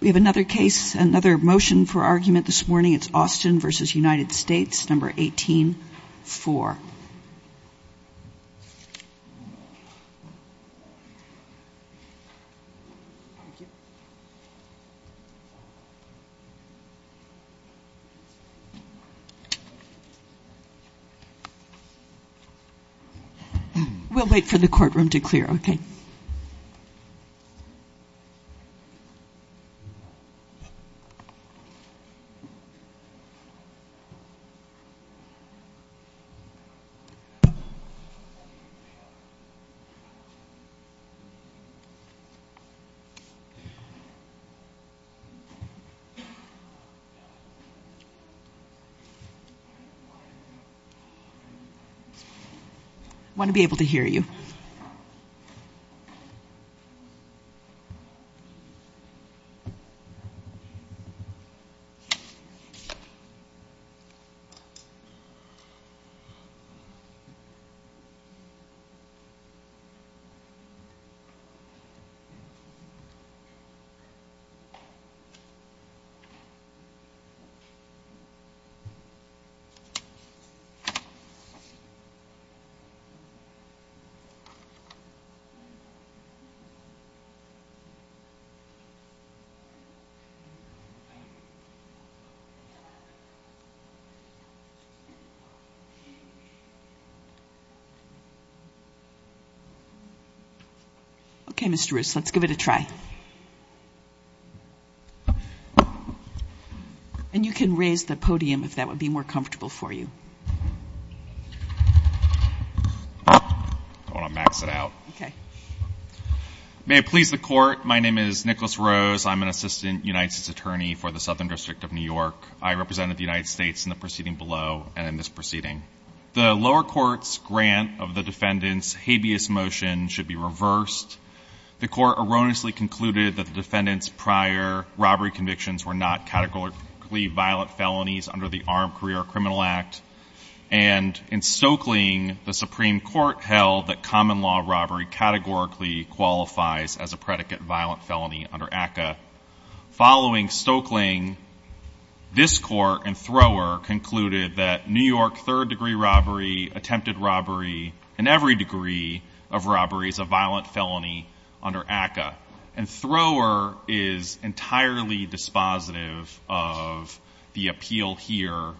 We have another case, another motion for argument this morning. It's Austin v. United States No. 18-4. We'll wait for the courtroom to clear. Okay. I want to be able to hear you. Okay. Okay, Mr. Roos, let's give it a try. And you can raise the podium if that would be more comfortable for you. I want to max it out. Okay. May it please the Court, my name is Nicholas Roos. I'm an Assistant United States Attorney for the Southern District of New York. I represented the United States in the proceeding below and in this proceeding. The lower court's grant of the defendant's habeas motion should be reversed. The court erroneously concluded that the defendant's prior robbery convictions were not categorically violent felonies under the Armed Career Criminal Act. And in Stokeling, the Supreme Court held that common law robbery categorically qualifies as a predicate violent felony under ACCA. Following Stokeling, this Court and Thrower concluded that New York third-degree robbery, attempted robbery, and every degree of robbery is a violent felony under ACCA. And Thrower is entirely dispositive of the appeal here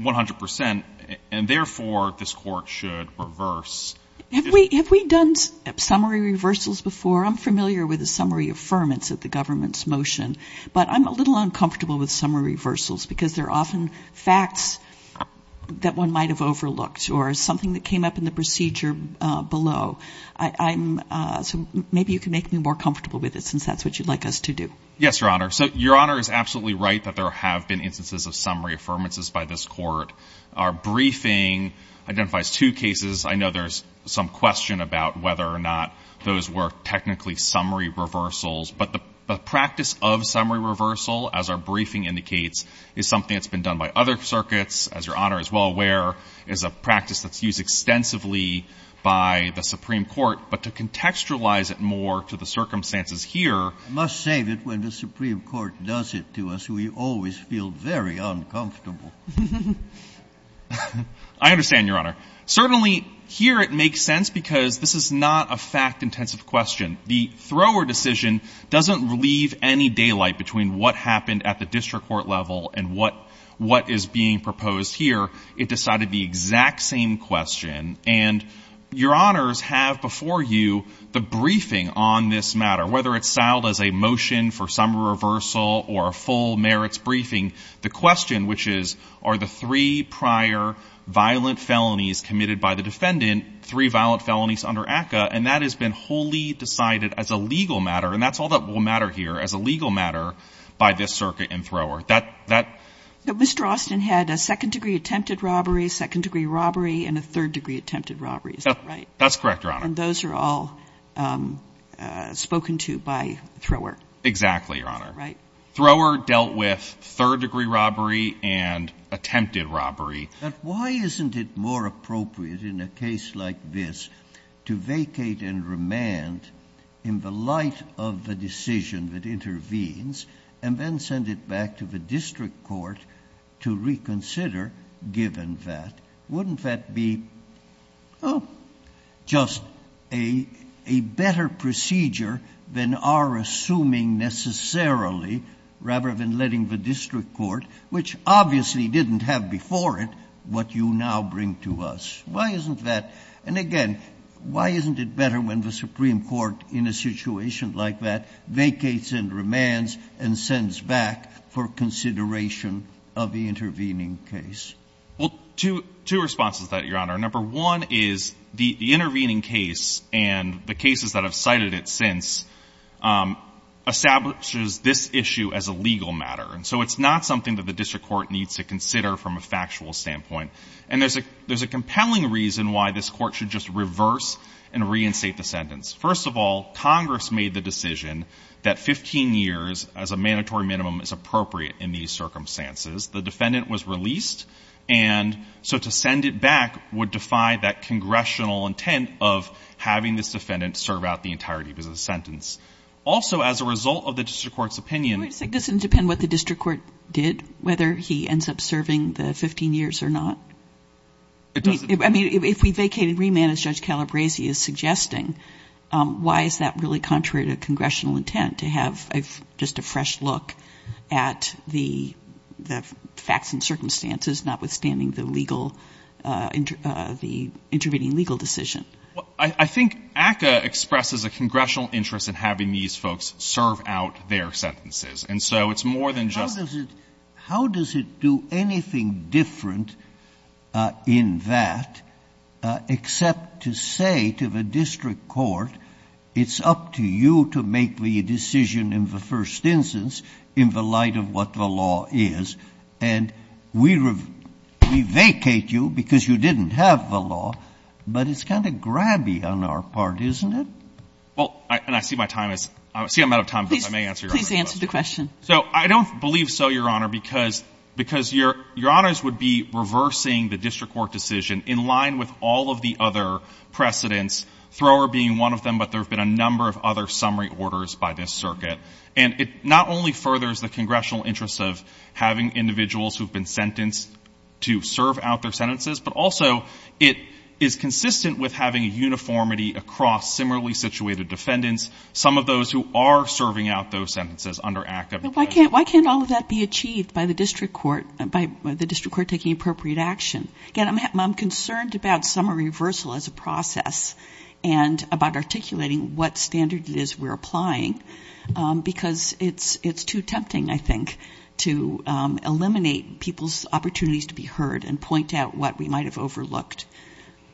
100%, and therefore, this Court should reverse. Have we done summary reversals before? I'm familiar with the summary affirmance of the government's motion, but I'm a little uncomfortable with summary reversals because they're often facts that one might have overlooked or something that came up in the procedure below. So maybe you can make me more comfortable with it since that's what you'd like us to do. Yes, Your Honor. So Your Honor is absolutely right that there have been instances of summary affirmances by this Court. Our briefing identifies two cases. I know there's some question about whether or not those were technically summary reversals. But the practice of summary reversal, as our briefing indicates, is something that's been done by other circuits. As Your Honor is well aware, it's a practice that's used extensively by the Supreme Court. But to contextualize it more to the circumstances here. I must say that when the Supreme Court does it to us, we always feel very uncomfortable. I understand, Your Honor. Certainly here it makes sense because this is not a fact-intensive question. The Thrower decision doesn't leave any daylight between what happened at the district court level and what is being proposed here. It decided the exact same question. And Your Honors have before you the briefing on this matter. Whether it's styled as a motion for summary reversal or a full merits briefing, the question, which is, are the three prior violent felonies committed by the defendant three violent felonies under ACCA? And that has been wholly decided as a legal matter. And that's all that will matter here as a legal matter by this circuit and Thrower. Mr. Austin had a second-degree attempted robbery, second-degree robbery, and a third-degree attempted robbery, is that right? That's correct, Your Honor. And those are all spoken to by Thrower? Exactly, Your Honor. Right. Thrower dealt with third-degree robbery and attempted robbery. But why isn't it more appropriate in a case like this to vacate and remand in the light of the decision that intervenes and then send it back to the district court to reconsider, given that? Wouldn't that be just a better procedure than our assuming necessarily, rather than letting the district court, which obviously didn't have before it, what you now bring to us? Why isn't that? And again, why isn't it better when the Supreme Court in a situation like that vacates and remands and sends back for consideration of the intervening case? Well, two responses to that, Your Honor. Number one is the intervening case and the cases that have cited it since establishes this issue as a legal matter. And so it's not something that the district court needs to consider from a factual standpoint. And there's a compelling reason why this court should just reverse and reinstate the sentence. First of all, Congress made the decision that 15 years as a mandatory minimum is appropriate in these circumstances. The defendant was released, and so to send it back would defy that congressional intent of having this defendant serve out the entirety of his sentence. Also, as a result of the district court's opinion — It doesn't depend what the district court did, whether he ends up serving the 15 years or not. It doesn't. I mean, if we vacate and remand, as Judge Calabresi is suggesting, why is that really contrary to congressional intent to have just a fresh look at the facts and circumstances, notwithstanding the legal — the intervening legal decision? I think ACCA expresses a congressional interest in having these folks serve out their sentences. And so it's more than just — How does it — how does it do anything different in that except to say to the district court, it's up to you to make the decision in the first instance in the light of what the law is, and we vacate you because you didn't have the law. But it's kind of grabby on our part, isn't it? Well, and I see my time is — I see I'm out of time, because I may answer your question. Please answer the question. So I don't believe so, Your Honor, because — because Your Honors would be reversing the district court decision in line with all of the other precedents, Thrower being one of them, but there have been a number of other summary orders by this circuit. And it not only furthers the congressional interest of having individuals who have been sentenced to serve out their sentences, but also it is consistent with having a uniformity across similarly situated defendants, some of those who are serving out those sentences under active — But why can't — why can't all of that be achieved by the district court — by the district court taking appropriate action? Again, I'm concerned about summary reversal as a process and about articulating what standard it is we're applying, because it's too tempting, I think, to eliminate people's opportunities to be heard and point out what we might have overlooked.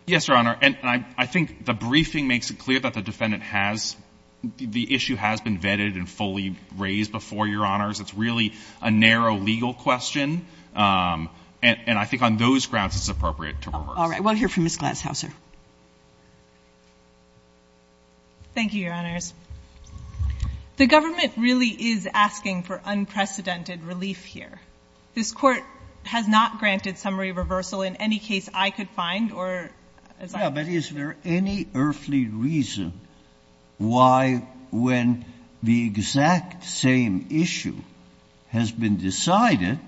Yes, Your Honor. And I think the briefing makes it clear that the defendant has — the issue has been vetted and fully raised before, Your Honors. It's really a narrow legal question, and I think on those grounds it's appropriate to reverse it. All right. We'll hear from Ms. Glashauser. Thank you, Your Honors. The government really is asking for unprecedented relief here. This Court has not granted summary reversal in any case I could find or as I understand it. Yeah, but is there any earthly reason why when the exact same issue has been decided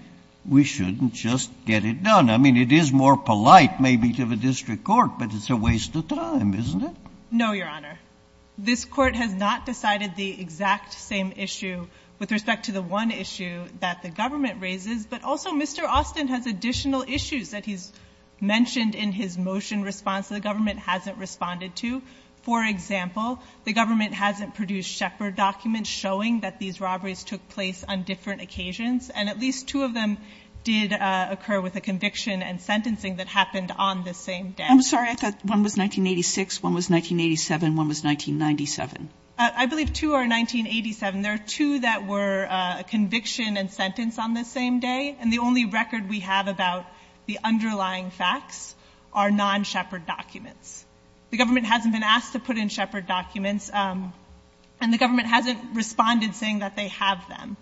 we shouldn't just get it done? I mean, it is more polite maybe to the district court, but it's a waste of time, isn't it? No, Your Honor. This Court has not decided the exact same issue with respect to the one issue that the government raises, but also Mr. Austin has additional issues that he's mentioned in his motion response that the government hasn't responded to. For example, the government hasn't produced Shepard documents showing that these robberies took place on different occasions, and at least two of them did occur with a conviction and sentencing that happened on the same day. I'm sorry. I thought one was 1986, one was 1987, one was 1997. I believe two are 1987. There are two that were conviction and sentence on the same day, and the only record we have about the underlying facts are non-Shepard documents. The government hasn't been asked to put in Shepard documents, and the government hasn't responded saying that they have them.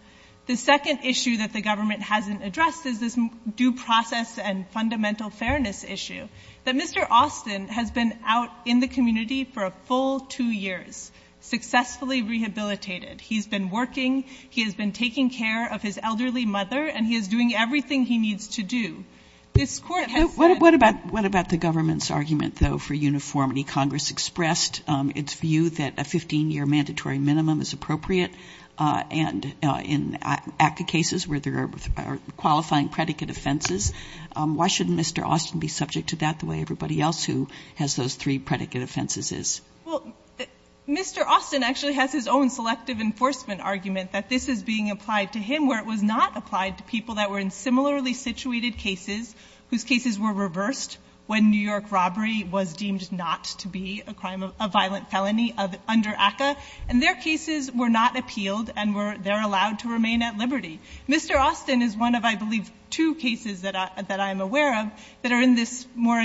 The second issue that the government hasn't addressed is this due process and fundamental fairness issue, that Mr. Austin has been out in the community for a full two years, successfully rehabilitated. He's been working. He has been taking care of his elderly mother, and he is doing everything he needs to do. This Court has said — What about the government's argument, though, for uniformity? Congress expressed its view that a 15-year mandatory minimum is appropriate, and in ACCA cases where there are qualifying predicate offenses, why shouldn't Mr. Austin be subject to that the way everybody else who has those three predicate offenses is? Well, Mr. Austin actually has his own selective enforcement argument that this is being applied to him, where it was not applied to people that were in similarly situated cases whose cases were reversed when New York robbery was deemed not to be a violent felony under ACCA. And their cases were not appealed, and they're allowed to remain at liberty. Mr. Austin is one of, I believe, two cases that I'm aware of that are in this more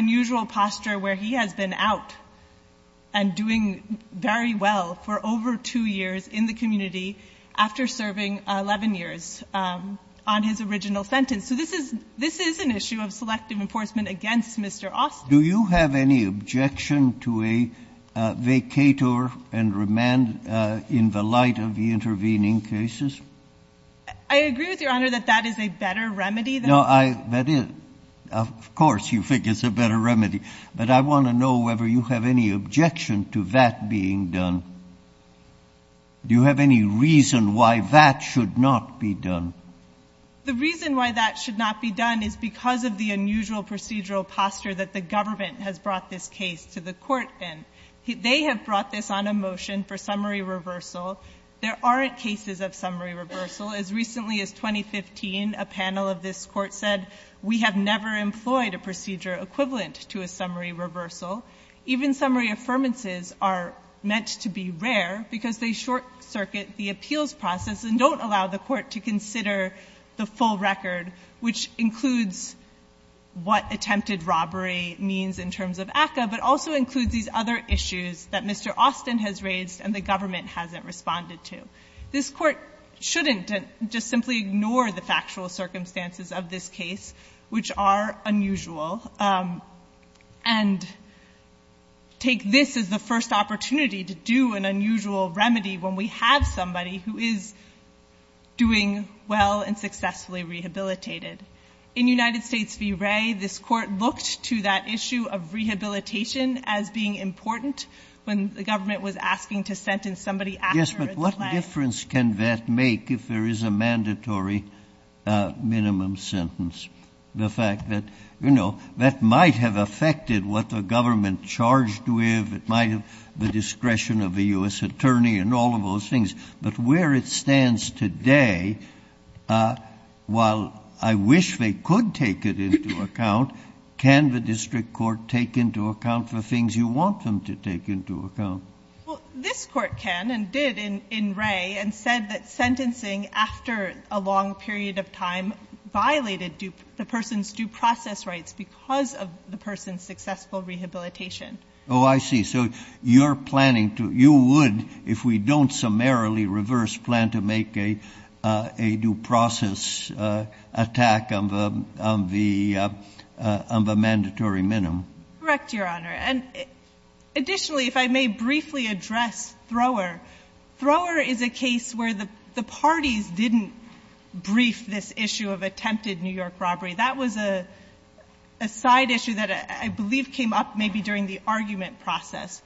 and doing very well for over two years in the community after serving 11 years on his original sentence. So this is — this is an issue of selective enforcement against Mr. Austin. Do you have any objection to a vacator and remand in the light of the intervening cases? I agree with Your Honor that that is a better remedy than — No, I — that is — of course you think it's a better remedy. But I want to know whether you have any objection to that being done. Do you have any reason why that should not be done? The reason why that should not be done is because of the unusual procedural posture that the government has brought this case to the court in. They have brought this on a motion for summary reversal. There aren't cases of summary reversal. As recently as 2015, a panel of this court said, we have never employed a procedure equivalent to a summary reversal. Even summary affirmances are meant to be rare because they short-circuit the appeals process and don't allow the court to consider the full record, which includes what attempted robbery means in terms of ACCA, but also includes these other issues that Mr. Austin has raised and the government hasn't responded to. This court shouldn't just simply ignore the factual circumstances of this case, which are unusual, and take this as the first opportunity to do an unusual remedy when we have somebody who is doing well and successfully rehabilitated. In United States v. Wray, this court looked to that issue of rehabilitation as being important when the government was asking to sentence somebody after — Yes, but what difference can that make if there is a mandatory minimum sentence? The fact that, you know, that might have affected what the government charged with, it might have — the discretion of the U.S. attorney and all of those things. But where it stands today, while I wish they could take it into account, can the district court take into account the things you want them to take into account? Well, this court can and did in Wray and said that sentencing after a long period of time violated the person's due process rights because of the person's successful rehabilitation. Oh, I see. So you're planning to — you would, if we don't summarily reverse plan to make a due process attack on the mandatory minimum. Correct, Your Honor. And additionally, if I may briefly address Thrower. Thrower is a case where the parties didn't brief this issue of attempted New York robbery. That was a side issue that I believe came up maybe during the argument process.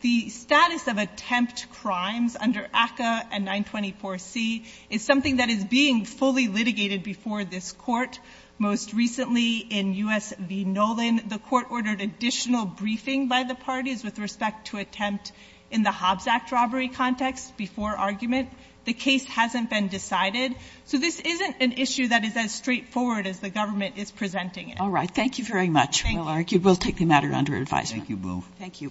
The status of attempt crimes under ACCA and 924C is something that is being fully litigated before this court. Most recently in U.S. v. Nolan, the court ordered additional briefing by the parties with respect to attempt in the Hobbs Act robbery context before argument. The case hasn't been decided. So this isn't an issue that is as straightforward as the government is presenting it. All right. Thank you very much. We'll take the matter under advisory. Thank you, Boo.